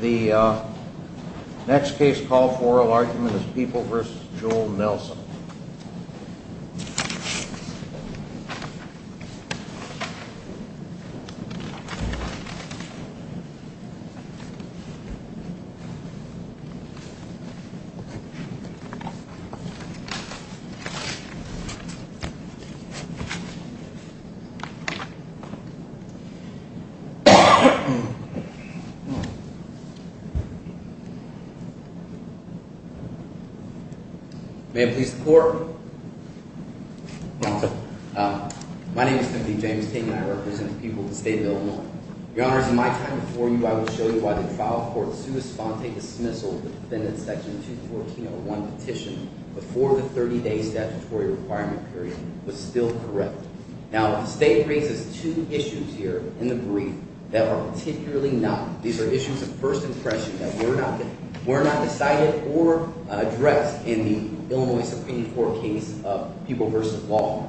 The next case call for oral argument is People v. Joel Nelson. My name is Timothy James Taney, and I represent the people of the state of Illinois. Your Honor, as in my time before you, I will show you why the trial court sued Espontate's dismissal of the defendant's Section 214.01 petition before the 30-day statutory requirement period was still correct. Now, the state raises two issues here in the brief that are particularly not—these are issues of first impression that were not decided or addressed in the Illinois Supreme Court case of People v. Law.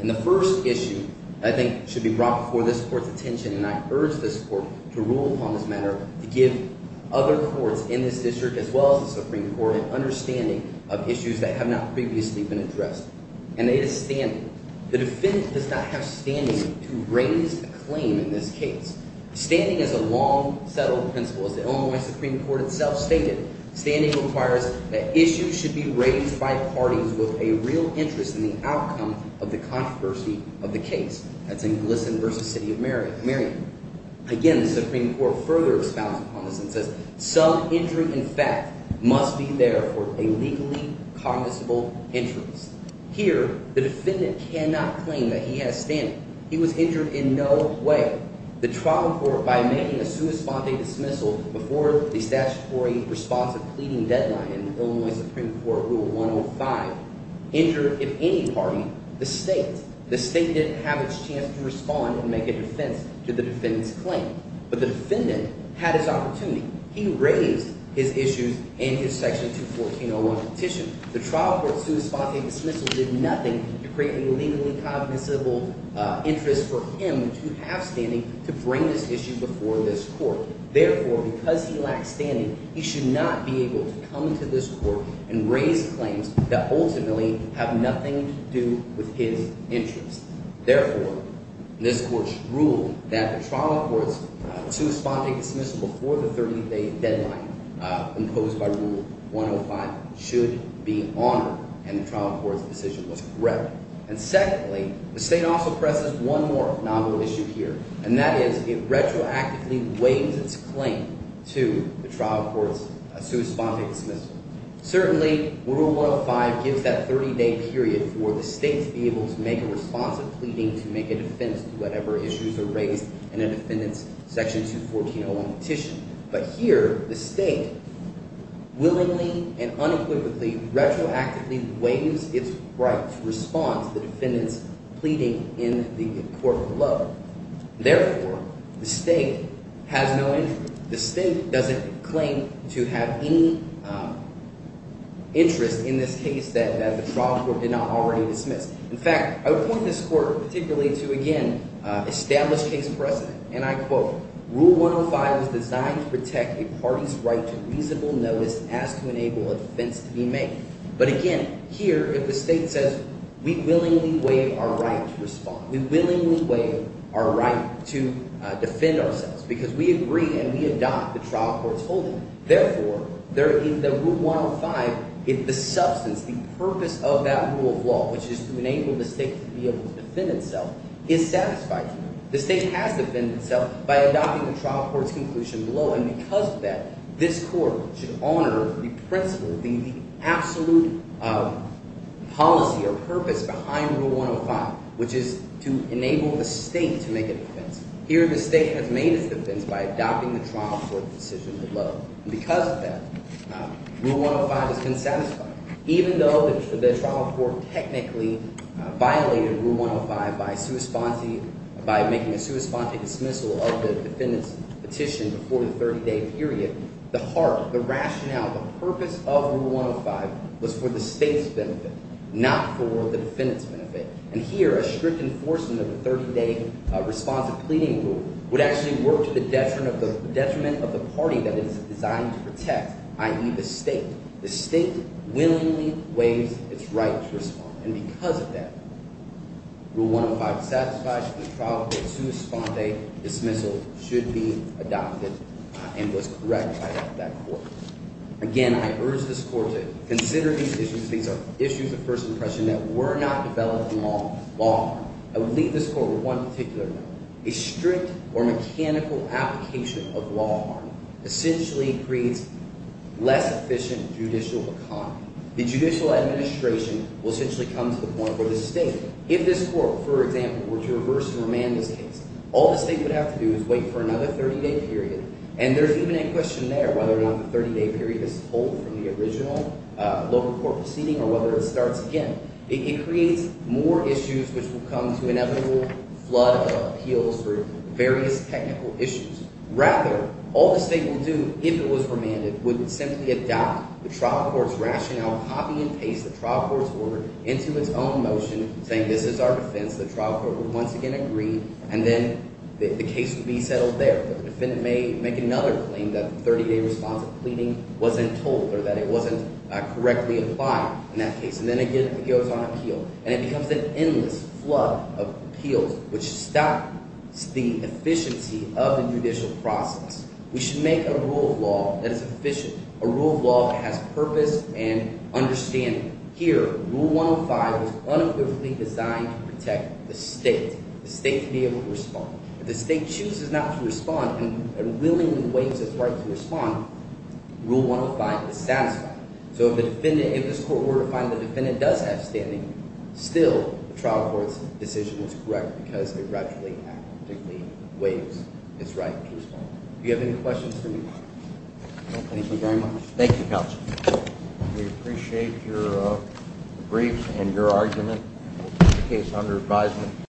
And the first issue, I think, should be brought before this Court's attention, and I urge this Court to rule upon this matter to give other courts in this district, as well as the Supreme Court, an understanding of issues that have not previously been addressed. And that is standing. The defendant does not have standing to raise a claim in this case. Standing is a long-settled principle. As the Illinois Supreme Court itself stated, standing requires that issues should be raised by parties with a real interest in the outcome of the controversy of the case. That's in Glisson v. City of Marion. Again, the Supreme Court further expounds upon this and says, some injury, in fact, must be there for a legally cognizable interest. Here, the defendant cannot claim that he has standing. He was injured in no way. The trial court, by making a sua sponte dismissal before the statutory response of pleading deadline in Illinois Supreme Court Rule 105, injured, if any party, the state. The state didn't have its chance to respond and make a defense to the defendant's claim, but the defendant had his opportunity. He raised his issues in his Section 214.01 petition. The trial court's sua sponte dismissal did nothing to create a legally cognizable interest for him to have standing to bring this issue before this court. Therefore, because he lacked standing, he should not be able to come to this court and raise claims that ultimately have nothing to do with his interests. Therefore, this court's rule that the trial court's sua sponte dismissal before the 30-day deadline imposed by Rule 105 should be honored, and the trial court's decision was correct. And secondly, the state also presses one more novel issue here, and that is it retroactively waives its claim to the trial court's sua sponte dismissal. Certainly, Rule 105 gives that 30-day period for the state to be able to make a response of pleading to make a defense to whatever issues are raised in a defendant's Section 214.01 petition. But here the state willingly and unequivocally retroactively waives its right to respond to the defendant's pleading in the court below. Therefore, the state has no interest. The state doesn't claim to have any interest in this case that the trial court did not already dismiss. In fact, I would point this court particularly to, again, established case precedent. And I quote, Rule 105 is designed to protect a party's right to reasonable notice as to enable a defense to be made. But again, here if the state says we willingly waive our right to respond, we willingly waive our right to defend ourselves because we agree and we adopt the trial court's holding. Therefore, in the Rule 105, the substance, the purpose of that rule of law, which is to enable the state to be able to defend itself, is satisfied. The state has to defend itself by adopting the trial court's conclusion below. And because of that, this court should honor the principle, the absolute policy or purpose behind Rule 105, which is to enable the state to make a defense. Here the state has made its defense by adopting the trial court's decision below. And because of that, Rule 105 has been satisfied. Even though the trial court technically violated Rule 105 by making a sua sponte dismissal of the defendant's petition before the 30-day period, the heart, the rationale, the purpose of Rule 105 was for the state's benefit, not for the defendant's benefit. And here a strict enforcement of a 30-day responsive pleading rule would actually work to the detriment of the party that it is designed to protect, i.e., the state. The state willingly waives its right to respond. And because of that, Rule 105 satisfies the trial court's sua sponte dismissal should be adopted and was corrected by that court. Again, I urge this court to consider these issues. These are issues of first impression that were not developed in law. I would leave this court with one particular note. A strict or mechanical application of law essentially creates less efficient judicial economy. The judicial administration will essentially come to the point where the state, if this court, for example, were to reverse and remand this case, all the state would have to do is wait for another 30-day period. And there's even a question there whether or not the 30-day period is told from the original local court proceeding or whether it starts again. It creates more issues which will come to inevitable flood of appeals for various technical issues. Rather, all the state will do, if it was remanded, would simply adopt the trial court's rationale, copy and paste the trial court's order into its own motion, saying this is our defense. The trial court would once again agree, and then the case would be settled there. The defendant may make another claim that the 30-day response of pleading wasn't told or that it wasn't correctly applied in that case, and then again it goes on appeal. And it becomes an endless flood of appeals which stops the efficiency of the judicial process. We should make a rule of law that is efficient, a rule of law that has purpose and understanding. Here, Rule 105 is unequivocally designed to protect the state, the state to be able to respond. If the state chooses not to respond and willingly waives its right to respond, Rule 105 is satisfied. So if the defendant – if this court were to find the defendant does have standing, still the trial court's decision is correct because they gradually have to waive its right to respond. Do you have any questions for me? Thank you very much. Thank you, Counselor. We appreciate your briefs and your argument. We'll take the case under advisement.